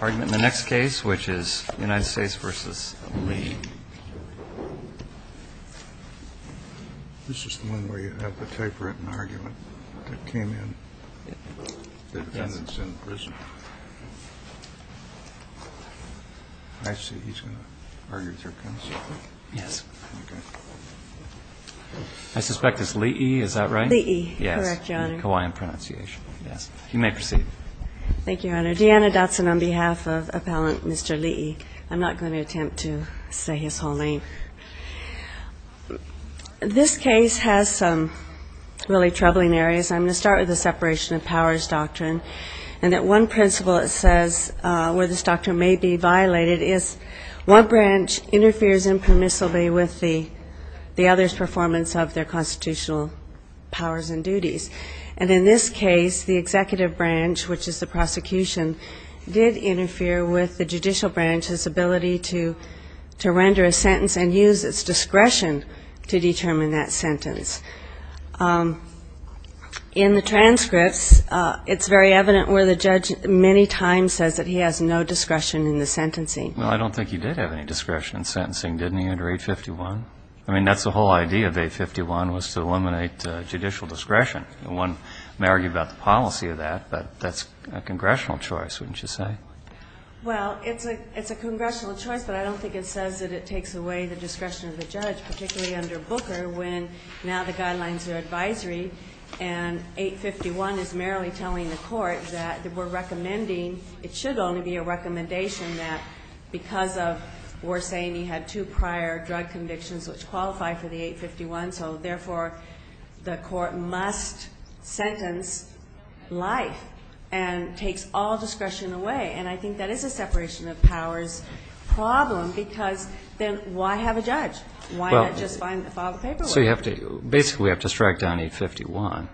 argument in the next case which is United States v. Lii. I suspect it's Lii, is that right? Yes, Hawaiian pronunciation. Yes. You may proceed. Thank you, Your Honor. Deanna Dotson on behalf of appellant Mr. Lii. I'm not going to attempt to say his whole name. This case has some really troubling areas. I'm going to start with the separation of powers doctrine and that one principle it says where this doctrine may be violated is one branch interferes impermissibly with the other's performance of their constitutional power. And in this case, the executive branch, which is the prosecution, did interfere with the judicial branch's ability to render a sentence and use its discretion to determine that sentence. In the transcripts, it's very evident where the judge many times says that he has no discretion in the sentencing. Well, I don't think he did have any discretion in sentencing, didn't he, under 851? I mean, that's the whole idea of 851 was to eliminate judicial discretion. One may argue about the policy of that, but that's a congressional choice, wouldn't you say? Well, it's a congressional choice, but I don't think it says that it takes away the discretion of the judge, particularly under Booker when now the guidelines are advisory and 851 is merely telling the court that we're recommending, it should only be a recommendation that because of we're saying he had two prior drug convictions which qualify for the 851, so therefore the court must sentence life and takes all discretion away. And I think that is a separation of powers problem because then why have a judge? Why not just file the paperwork? So you basically have to strike down 851.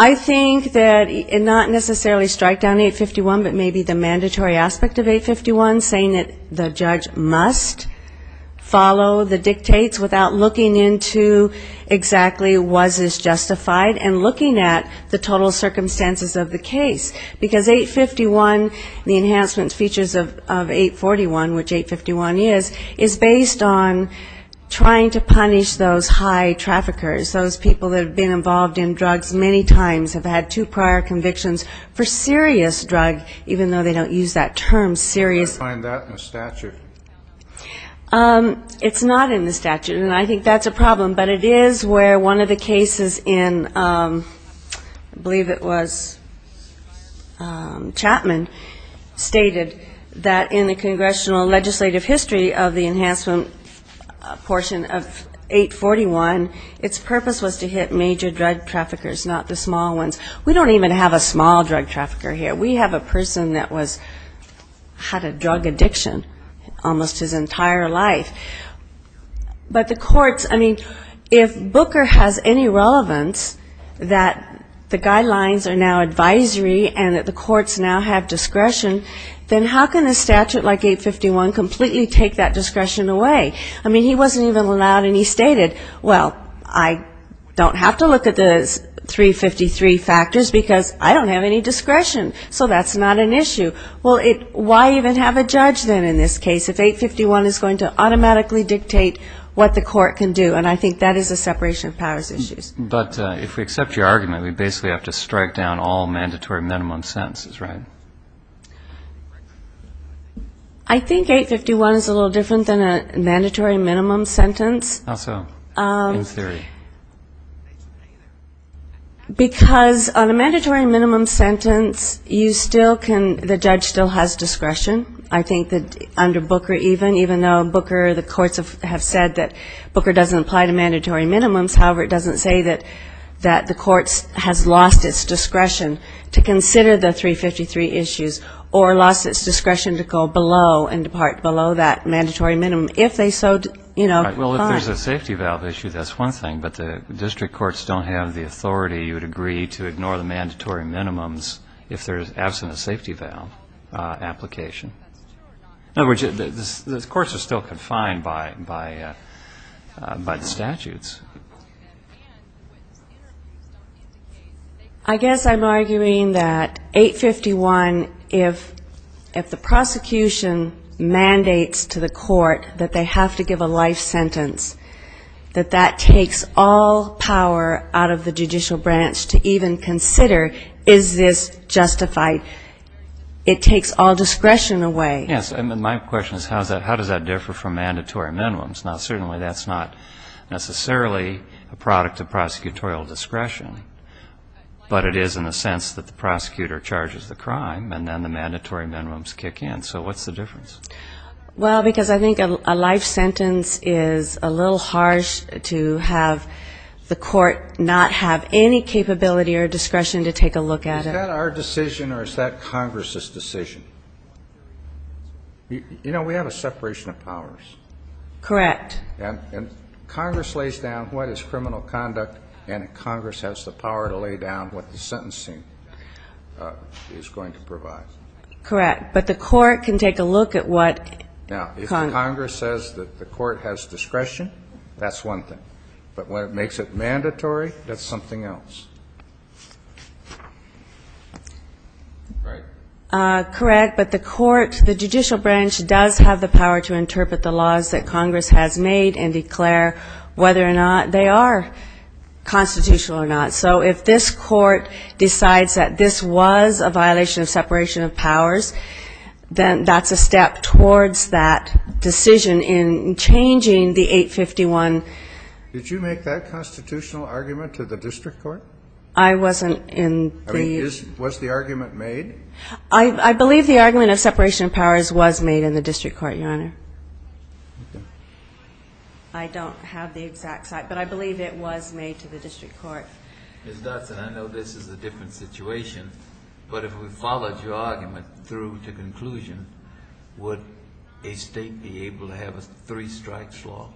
I think that not necessarily strike down 851, but maybe the mandatory aspect of 851, saying that the judge must follow the dictates without looking into exactly was this justified and looking at the total circumstances of the case, because 851, the enhancement features of 841, which 851 is, is based on trying to punish the judge. Those high traffickers, those people that have been involved in drugs many times have had two prior convictions for serious drug, even though they don't use that term, serious. I don't find that in the statute. It's not in the statute, and I think that's a problem, but it is where one of the cases in, I believe it was Chapman, stated that in the congressional legislative history of the enhancement portion of 841, its purpose was to hit major drug traffickers, not the small ones. We don't even have a small drug trafficker here. We have a person that was, had a drug addiction almost his entire life. But the courts, I mean, if Booker has any relevance that the guidelines are now advisory and that the courts now have discretion, then how can a statute like 851 completely take that discretion away? I mean, he wasn't even allowed, and he stated, well, I don't have to look at the 353 factors, because I don't have any discretion, so that's not an issue. Well, why even have a judge then in this case if 851 is going to automatically dictate what the court can do? And I think that is a separation of powers issue. But if we accept your argument, we basically have to strike down all mandatory minimum sentences, right? I think 851 is a little different than a mandatory minimum sentence. How so? In theory. Because on a mandatory minimum sentence, you still can, the judge still has discretion. I think that under Booker even, even though Booker, the courts have said that Booker doesn't apply to mandatory minimums. However, it doesn't say that the courts has lost its discretion to consider the 353 factors. It doesn't say that the courts has lost its discretion to consider the 353 issues or lost its discretion to go below and depart below that mandatory minimum. If they so, you know. Well, if there's a safety valve issue, that's one thing, but the district courts don't have the authority, you would agree, to ignore the mandatory minimums if there's absent a safety valve application. In other words, the courts are still confined by the statutes. I guess I'm arguing that 851, if the prosecution mandates to the court that they have to give a life sentence, that that takes all power out of the judicial branch to even consider is this justified. It takes all discretion away. Yes, and my question is how does that differ from mandatory minimums? Now, certainly that's not necessarily a product of prosecutorial discretion, but it is in the sense that the prosecutor charges the crime and then the mandatory minimums kick in. So what's the difference? Well, because I think a life sentence is a little harsh to have the court not have any capability or discretion to take a look at it. Is that our decision or is that Congress's decision? You know, we have a separation of powers. Correct. And Congress lays down what is criminal conduct and Congress has the power to lay down what the sentencing is going to provide. Correct. But the court can take a look at what Congress says that the court has discretion, that's one thing. But when it makes it mandatory, that's something else. Correct. But the court, the judicial branch does have the power to interpret the laws that Congress has made and declare whether or not they are constitutional or not. So if this court decides that this was a violation of separation of powers, then that's a step towards that decision in changing the 851. Did you make that constitutional argument to the district court? I wasn't in the... I mean, was the argument made? I believe the argument of separation of powers was made in the district court, Your Honor. I don't have the exact site, but I believe it was made to the district court. Ms. Dodson, I know this is a different situation, but if we followed your argument through to conclusion, would a state be able to have a three strikes law?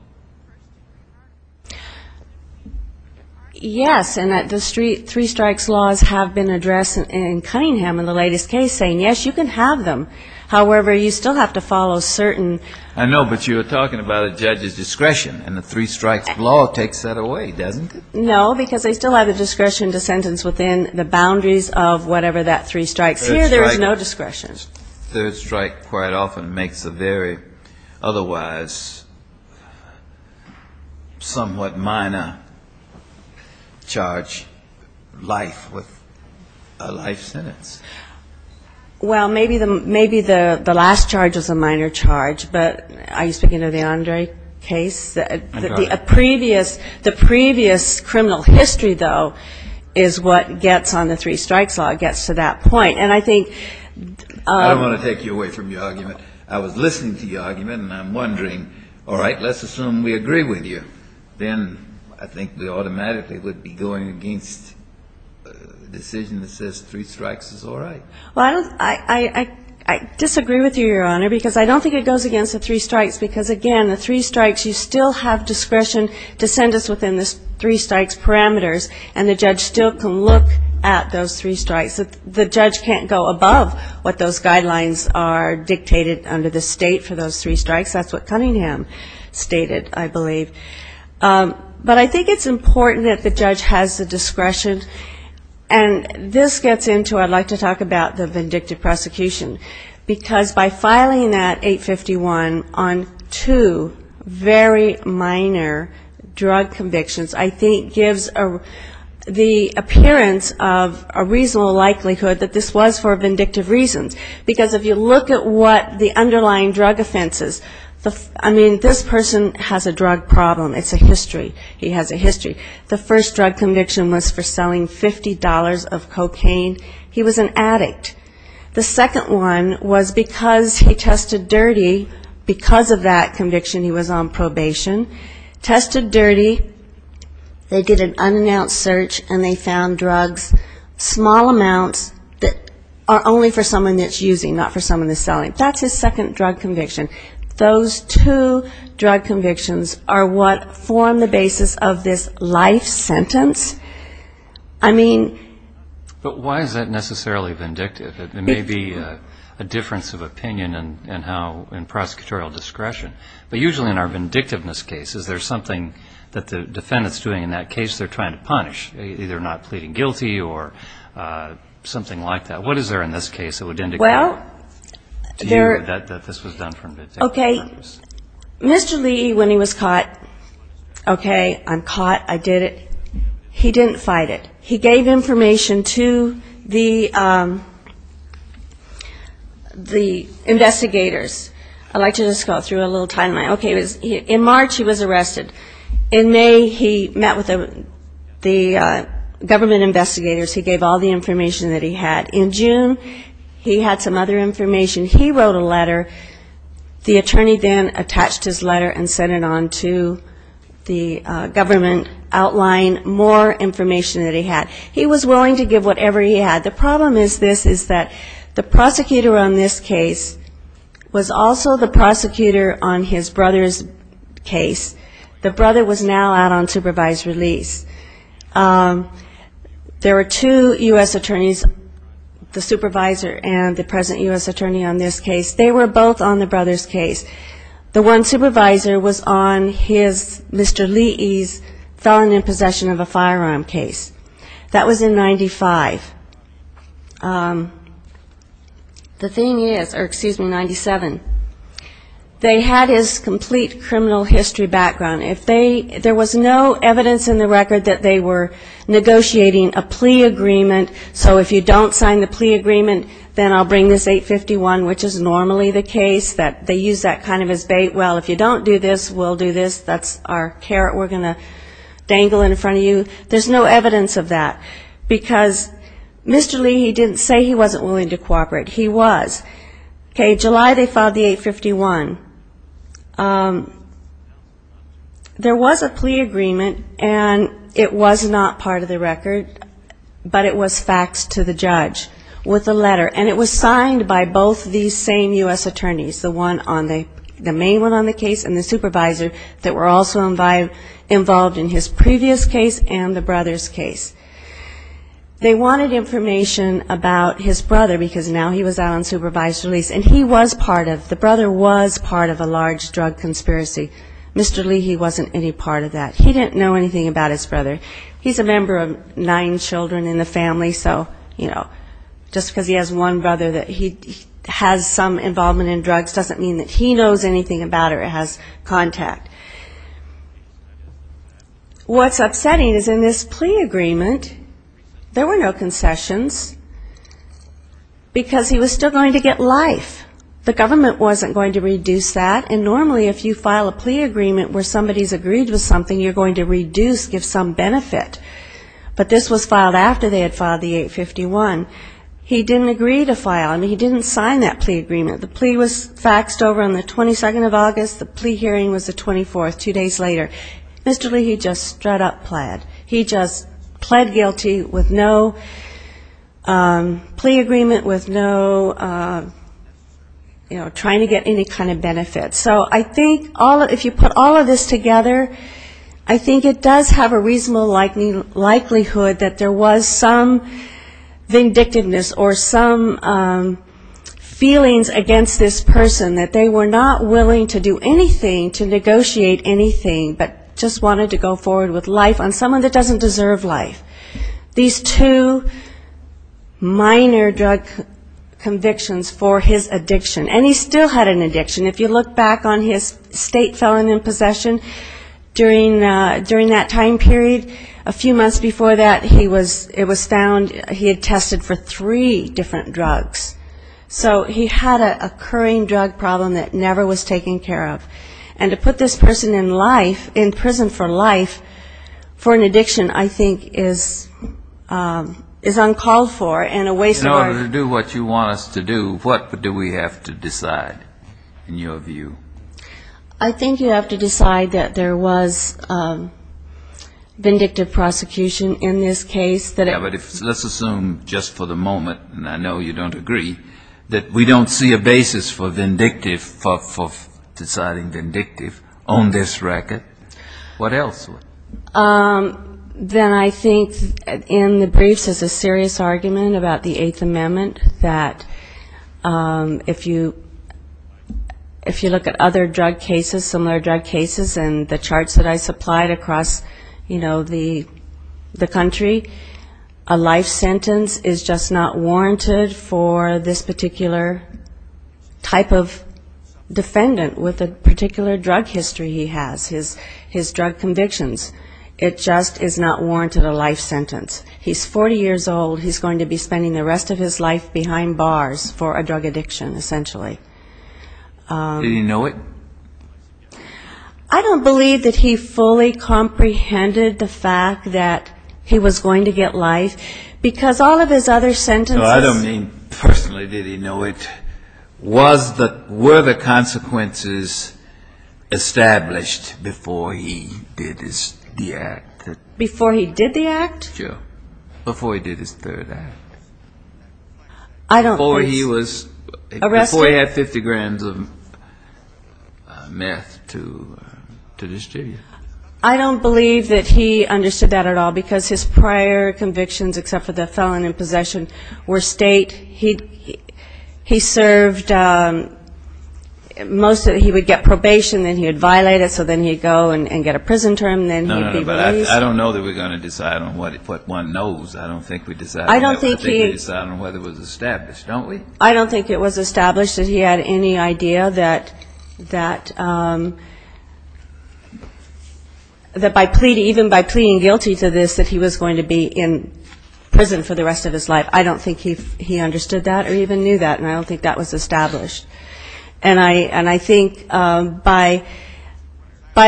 Yes, and the three strikes laws have been addressed in Cunningham in the latest case, saying, yes, you can have them. However, you still have to follow certain... I know, but you were talking about a judge's discretion, and the three strikes law takes that away, doesn't it? No, because they still have the discretion to sentence within the boundaries of whatever that three strikes. Here, there is no discretion. Third strike quite often makes a very otherwise somewhat minor charge life with a life sentence. Well, maybe the last charge was a minor charge, but are you speaking of the Andre case? The previous criminal history, though, is what gets on the three strikes law, gets to that point. I don't want to take you away from your argument. I was listening to your argument, and I'm wondering, all right, let's assume we agree with you. Then I think we automatically would be going against a decision that says three strikes is all right. Well, I disagree with you, Your Honor, because I don't think it goes against the three strikes, because, again, the three strikes, you still have discretion to sentence within the three strikes parameters, and the judge still can look at those three strikes. The judge can't go above what those guidelines are dictated under the state for those three strikes. That's what Cunningham stated, I believe. But I think it's important that the judge has the discretion. And this gets into, I'd like to talk about the vindictive prosecution, because by filing that 851 on two very minor drug convictions, I think gives the appearance of a reasonable life sentence. And there's a likelihood that this was for vindictive reasons. Because if you look at what the underlying drug offense is, I mean, this person has a drug problem. It's a history. He has a history. The first drug conviction was for selling $50 of cocaine. He was an addict. The second one was because he tested dirty, because of that conviction he was on probation. Tested dirty, they did an unannounced search, and they found drugs, small amounts of cocaine. Small amounts that are only for someone that's using, not for someone that's selling. That's his second drug conviction. Those two drug convictions are what form the basis of this life sentence. I mean... But why is that necessarily vindictive? It may be a difference of opinion in prosecutorial discretion. But usually in our vindictiveness cases, there's something that the defendant's doing in that case. They're trying to punish, either not pleading guilty or something like that. What is there in this case that would indicate that this was done for vindictive purposes? Okay. Mr. Lee, when he was caught, okay, I'm caught. I did it. He didn't fight it. He gave information to the investigators. I'd like to just go through a little timeline. In March he was arrested. In May he met with the government investigators. He gave all the information that he had. In June he had some other information. He wrote a letter. The attorney then attached his letter and sent it on to the government, outlining more information that he had. He was willing to give whatever he had. The problem is this, is that the prosecutor on this case was also the prosecutor on his brother's case. The brother was now out on supervised release. There were two U.S. attorneys, the supervisor and the present U.S. attorney on this case. They were both on the brother's case. The one supervisor was on his, Mr. Lee's felon in possession of a firearm case. That was in 95. The thing is, or excuse me, 97, they had his complete criminal history background. If they, there was no evidence in the record that they were negotiating a plea agreement, so if you don't sign the plea agreement, then I'll bring this 851, which is normally the case, they use that kind of as bait, well, if you don't do this, we'll do this, that's our carrot we're going to dangle in front of you. There's no evidence of that, because Mr. Lee, he didn't say he wasn't willing to cooperate. He was. Okay, July they filed the 851. There was a plea agreement, and it was not part of the record, but it was faxed to the judge with a letter. And it was signed by both these same U.S. attorneys, the one on the, the main one on the case and the supervisor that were also involved in his previous case and the brother's case. They wanted information about his brother, because now he was out on supervised release. And he was part of, the brother was part of a large drug conspiracy. Mr. Lee, he wasn't any part of that. He didn't know anything about his brother. He's a member of nine children in the family, so, you know, just because he has one brother that he has some involvement in drugs doesn't mean that he knows anything about it or has contact. What's upsetting is in this plea agreement, there were no concessions, because he was still going to get life. The government wasn't going to reduce that, and normally if you file a plea agreement where somebody's agreed with something, you're going to reduce, give some benefit. But this was filed after they had filed the 851. He didn't agree to file. I mean, he didn't sign that plea agreement. The plea was faxed over on the 22nd of August, the plea hearing was the 24th, two days later. Mr. Lee, he just strut up pled. He just pled guilty with no plea agreement, with no, you know, trying to get any kind of benefit. So I think if you put all of this together, I think it does have a reasonable likelihood that there was some vindictiveness or some feelings against this person, that they were not willing to do anything to negotiate anything, but just wanted to go forward with life on someone that doesn't deserve life. These two minor drug convictions for his addiction, and he still had an addiction. If you look back on his state felon in possession, during that time period, a few months before that, it was found he had tested for three different drugs. So he had an occurring drug problem that never was taken care of. And to put this person in life, in prison for life, for an addiction, I think is uncalled for and a waste of our... In order to do what you want us to do, what do we have to decide, in your view? I think you have to decide that there was vindictive prosecution in this case. But let's assume just for the moment, and I know you don't agree, that we don't see a basis for deciding vindictive on this record. What else? Then I think in the briefs there's a serious argument about the Eighth Amendment, that if you look at other drug cases, similar drug cases and the charts that I supplied across, you know, the country, a life sentence is just not warranted for this particular type of defendant with a particular drug history he has, his drug convictions. It just is not warranted a life sentence. He's 40 years old, he's going to be spending the rest of his life behind bars for a drug addiction, essentially. Did he know it? I don't believe that he fully comprehended the fact that he was going to get life, because all of his other sentences... No, I don't mean personally did he know it. Were the consequences established before he did the act? Before he did the act? Before he did his third act. Before he had 50 grams of meth to distribute. I don't believe that he understood that at all, because his prior convictions, except for the felon in possession, were state. He served most of it, he would get probation, then he would violate it, so then he'd go and get a prison term, then he'd be released. But I don't know that we're going to decide on what one knows. I don't think we decide on whether it was established, don't we? I don't think it was established that he had any idea that by pleading, even by pleading guilty to this, that he was going to be in prison for the rest of his life. I don't think he understood that or even knew that, and I don't think that was established. And I think by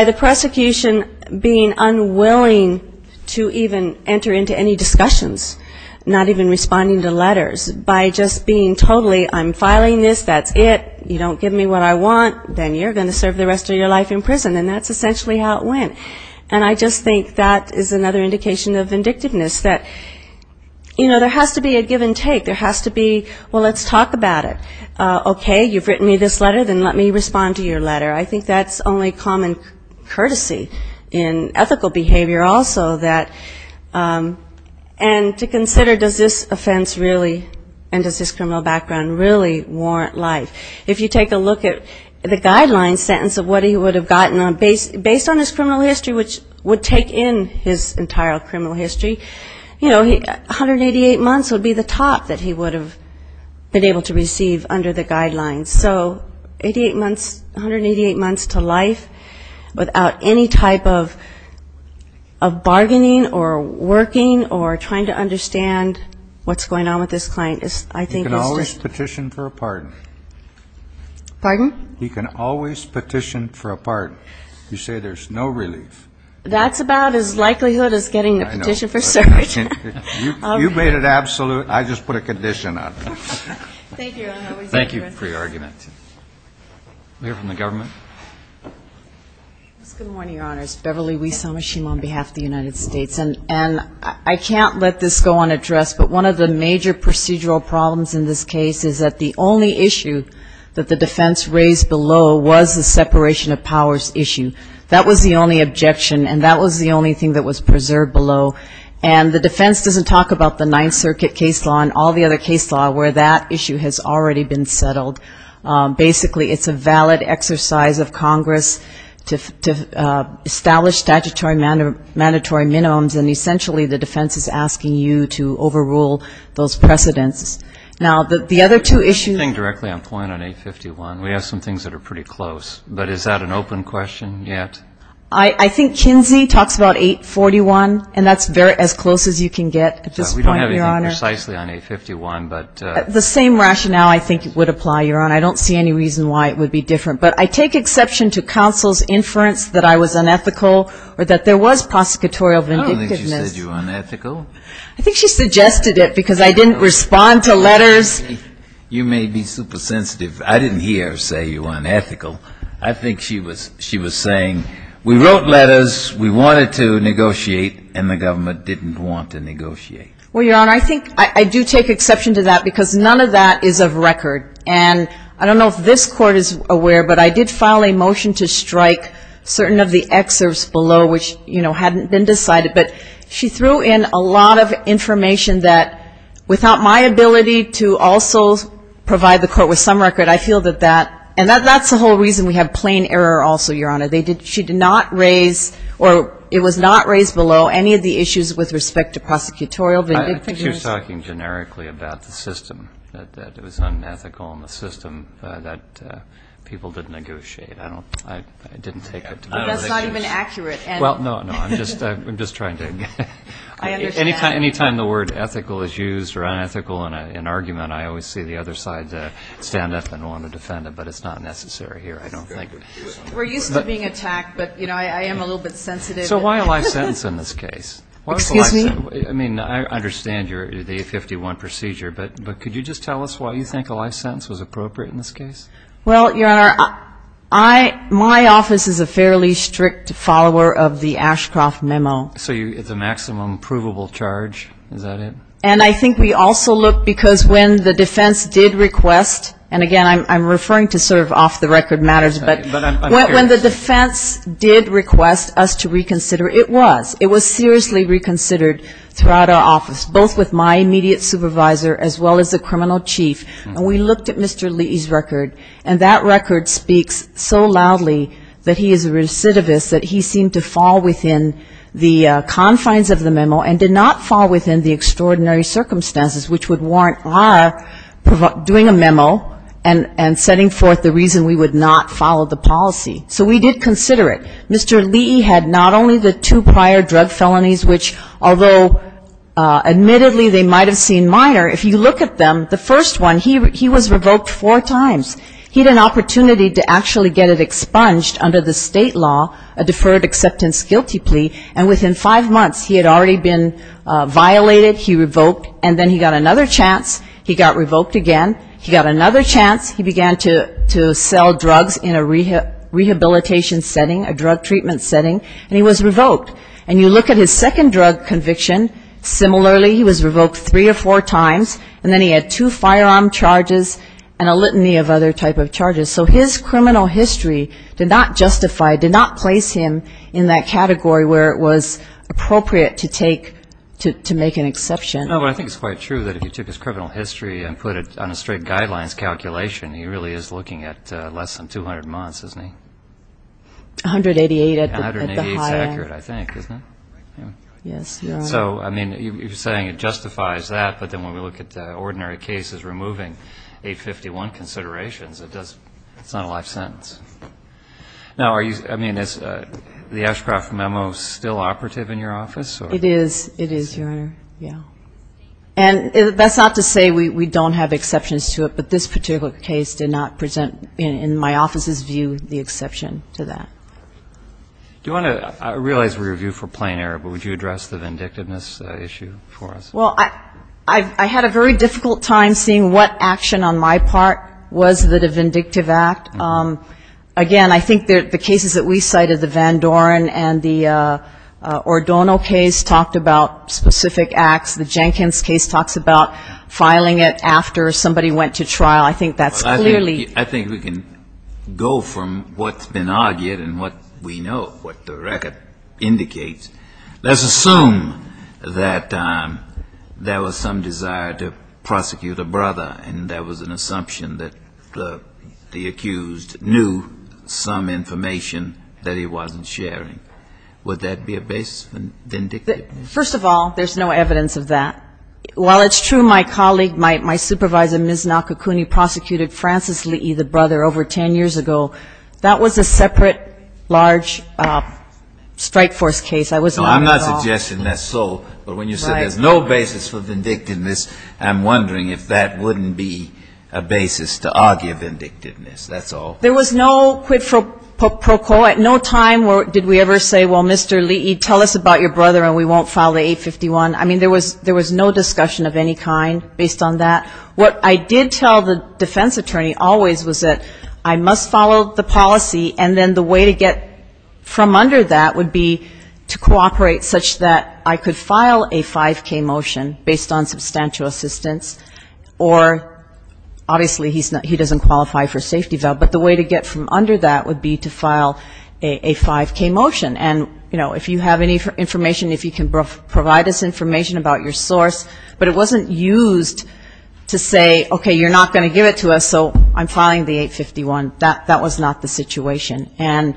the prosecution being unwilling to even enter into any discussions, not even responding to letters, by just being totally, I'm filing this, that's it, you don't give me what I want, then you're going to serve the rest of your life in prison, and that's essentially how it went. And I just think that is another indication of vindictiveness, that, you know, there has to be a give and take. There has to be, well, let's talk about it. Okay, you've written me this letter, then let me respond to your letter. I think that's only common courtesy in ethical behavior also, that, and to consider, does this offense really, and does this criminal background really warrant life? If you take a look at the guideline sentence of what he would have gotten based on his criminal history, which would take in his entire criminal history, you know, 188 months would be the top that he would have been able to receive under the guidelines. So 88 months, 188 months to life without any type of bargaining or working or trying to understand what's going on with this client is, I think... He can always petition for a pardon. Pardon? He can always petition for a pardon. You say there's no relief. That's about as likelihood as getting a petition for service. You made it absolute. I just put a condition on it. Thank you for your argument. I'm here from the government. Good morning, Your Honors. Beverly Wiesamashima on behalf of the United States. And I can't let this go unaddressed, but one of the major procedural problems in this case is that the only issue that the defense raised below was the separation of powers issue. That was the only objection and that was the only thing that was preserved below. And the defense doesn't talk about the Ninth Circuit case law and all the other case law where that issue has already been settled. Basically, it's a valid exercise of Congress to establish statutory mandatory minimums, and essentially the defense is asking you to overrule those precedents. Now, the other two issues... I think Kinsey talks about 841, and that's as close as you can get at this point, Your Honor. We don't have anything precisely on 851, but... The same rationale I think would apply, Your Honor. I don't see any reason why it would be different. But I take exception to counsel's inference that I was unethical or that there was prosecutorial vindictiveness. I don't think she said you were unethical. I think she suggested it because I didn't respond to letters. You may be super sensitive. I didn't hear her say you were unethical. I think she was saying we wrote letters, we wanted to negotiate, and the government didn't want to negotiate. Well, Your Honor, I think I do take exception to that because none of that is of record. And I don't know if this Court is aware, but I did file a motion to strike certain of the excerpts below, which, you know, hadn't been decided. But she threw in a lot of information that, without my ability to also provide the Court with some record, I feel that that, and that's the whole reason we have plain error also, Your Honor. She did not raise, or it was not raised below, any of the issues with respect to prosecutorial vindictiveness. I think she was talking generically about the system, that it was unethical, and the system that people didn't negotiate. I don't, I didn't take it to that. That's not even accurate. Well, no, no, I'm just trying to, anytime the word ethical is used or unethical in an argument, I always see the other side stand up and want to defend it, but it's not necessary here, I don't think. We're used to being attacked, but, you know, I am a little bit sensitive. So why a life sentence in this case? Excuse me? I mean, I understand your, the 51 procedure, but could you just tell us why you think a life sentence was appropriate in this case? Well, Your Honor, I, my office is a fairly strict follower of the Ashcroft memo. So it's a maximum provable charge, is that it? And I think we also look, because when the defense did request, and, again, I'm referring to sort of off-the-record matters, but when the defense did request us to reconsider, it was. It was seriously reconsidered throughout our office, both with my immediate supervisor as well as the criminal chief. And we looked at Mr. Lee's record, and that record speaks so loudly that he is a recidivist, that he seemed to fall within the confines of the memo and did not fall within the extraordinary circumstances which would warrant our doing a memo and setting forth the reason we would not follow the policy. So we did consider it. Mr. Lee had not only the two prior drug felonies, which, although admittedly they might have seen minor, if you look at them, the first one, he was revoked four times. He had an opportunity to actually get it expunged under the state law, a deferred acceptance guilty plea, and within five months he had already been violated, he revoked, and then he got another chance, he got revoked again, he got another chance, he began to sell drugs in a rehabilitation setting, a drug treatment setting, and he was revoked. And you look at his second drug conviction, similarly, he was revoked three or four times, and then he had two firearm charges and a litany of other type of charges. So his criminal history did not justify, did not place him in that category where it was appropriate to take, to make an exception. Mr. Lee No, but I think it's quite true that if you took his criminal history and put it on a straight guidelines calculation, he really is looking at less than 200 months, isn't he? Ms. Atkins Yes, 188 at the high end. Mr. Lee 188 is accurate, I think, isn't it? Ms. Atkins Yes, Your Honor. Mr. Lee So, I mean, you're saying it justifies that, but then when we look at ordinary cases removing 851 considerations, it's not a life sentence. Now, are you, I mean, is the Ashcroft memo still operative in your office? Ms. Atkins It is, it is, Your Honor. Yeah. And that's not to say we don't have exceptions to it, but this particular case did not present, in my office's view, the exception to that. Mr. Lee Do you want to, I realize we review for plain error, but would you address the vindictiveness issue for us? Ms. Atkins Well, I had a very difficult time seeing what action on my part was the vindictive act. Again, I think the cases that we cited, the Van Doren and the Ordono case, talked about specific acts. The Jenkins case talks about filing it after somebody went to trial. I think that's clearly ---- Mr. Lee Well, I think we can go from what's been argued and what we know, what the record indicates. Let's assume that there was some desire to prosecute a brother, and that was an assumption that the accused knew that the brother was guilty. And that the accused knew some information that he wasn't sharing. Would that be a basis for vindictiveness? Ms. Atkins First of all, there's no evidence of that. While it's true, my colleague, my supervisor, Ms. Nakakuni, prosecuted Francis Lee, the brother, over 10 years ago. That was a separate, large, strike force case. I was not at all ---- Mr. Lee No, I'm not suggesting that's so. But when you said there's no basis for vindictiveness, I'm wondering if that wouldn't be a basis to argue vindictiveness. That's all. Ms. Atkins There was no quid pro quo. At no time did we ever say, well, Mr. Lee, tell us about your brother and we won't file the 851. I mean, there was no discussion of any kind based on that. What I did tell the defense attorney always was that I must follow the policy and then the way to get from under that would be to cooperate such that I could file a 5K motion based on substantial assistance, or obviously he doesn't qualify for a safety vow, but the way to get from under that would be to file a 5K motion. And, you know, if you have any information, if you can provide us information about your source. But it wasn't used to say, okay, you're not going to give it to us, so I'm filing the 851. That was not the situation. And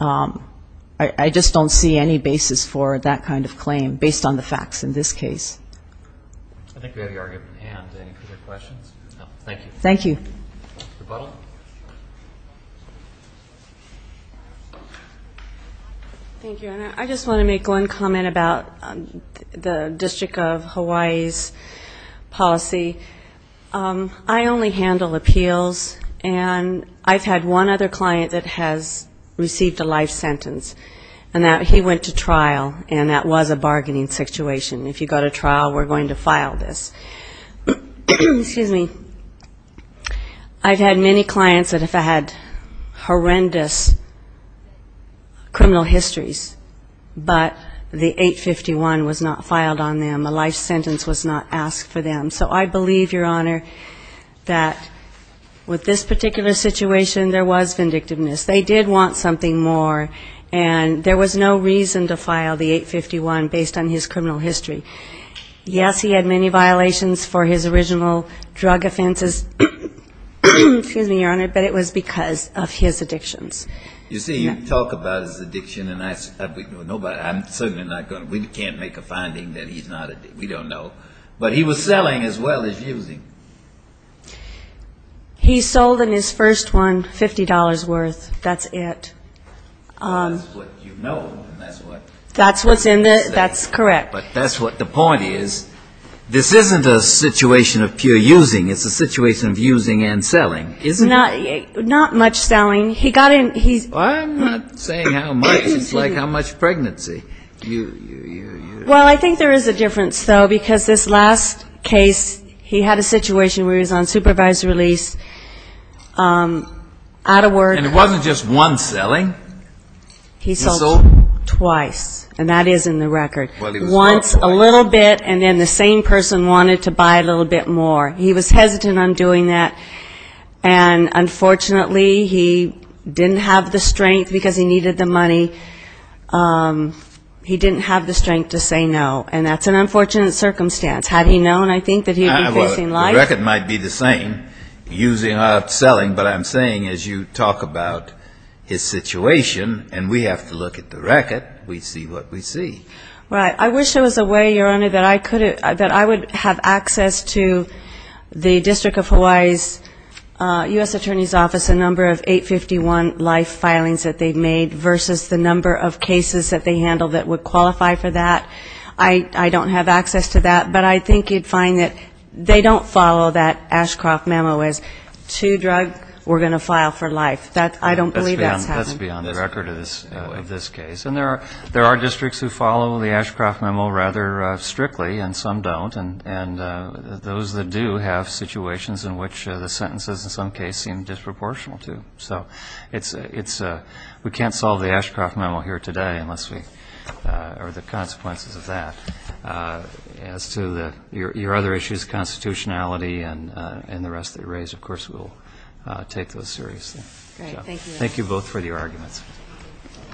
I just don't see any basis for that kind of claim based on the facts in this case. I think we have the argument at hand. Any further questions? No. Thank you. Thank you. And I just want to make one comment about the District of Hawaii's policy. I only handle appeals, and I've had one other client that has received a life sentence, and that he went to trial, and that was a life sentence, and he went to trial, we're going to file this. Excuse me. I've had many clients that have had horrendous criminal histories, but the 851 was not filed on them. A life sentence was not asked for them. So I believe, Your Honor, that with this particular situation, there was vindictiveness. They did want something more, and there was no reason to file the 851 based on his criminal history. Yes, he had many violations for his original drug offenses. Excuse me, Your Honor, but it was because of his addictions. You see, you talk about his addiction, and I'm certainly not going to. We can't make a finding that he's not addicted. We don't know. But he was selling as well as using. He sold in his first one $50 worth. That's it. That's what you know. That's what's in there. That's correct. But that's what the point is. This isn't a situation of pure using. It's a situation of using and selling, isn't it? Not much selling. He got in. I'm not saying how much. It's like how much pregnancy. Well, I think there is a difference, though, because this last case, he had a situation where he was on supervised release, out of work. And it wasn't just one selling. He sold twice, and that is in the record. Once, a little bit, and then the same person wanted to buy a little bit more. He was hesitant on doing that, and unfortunately, he didn't have the strength because he needed the money. He didn't have the strength to say no, and that's an unfortunate circumstance. Had he known, I think, that he would be facing life? The record might be the same, using or selling, but I'm saying, as you talk about his situation, and we have to look at the record, we see what we see. Right. I wish there was a way, Your Honor, that I would have access to the District of Hawaii's U.S. Attorney's Office, a number of 851 life filings that they've made, versus the number of cases that they handled in the past. I don't have access to that, but I think you'd find that they don't follow that Ashcroft memo as, two drugs, we're going to file for life. I don't believe that's happening. That's beyond the record of this case. And there are districts who follow the Ashcroft memo rather strictly, and some don't. And those that do have situations in which the sentences, in some cases, seem disproportional to. So we can't solve the Ashcroft memo here today, or the consequences of that. As to your other issues, constitutionality and the rest that you raise, of course, we'll take those seriously. Thank you both for your arguments.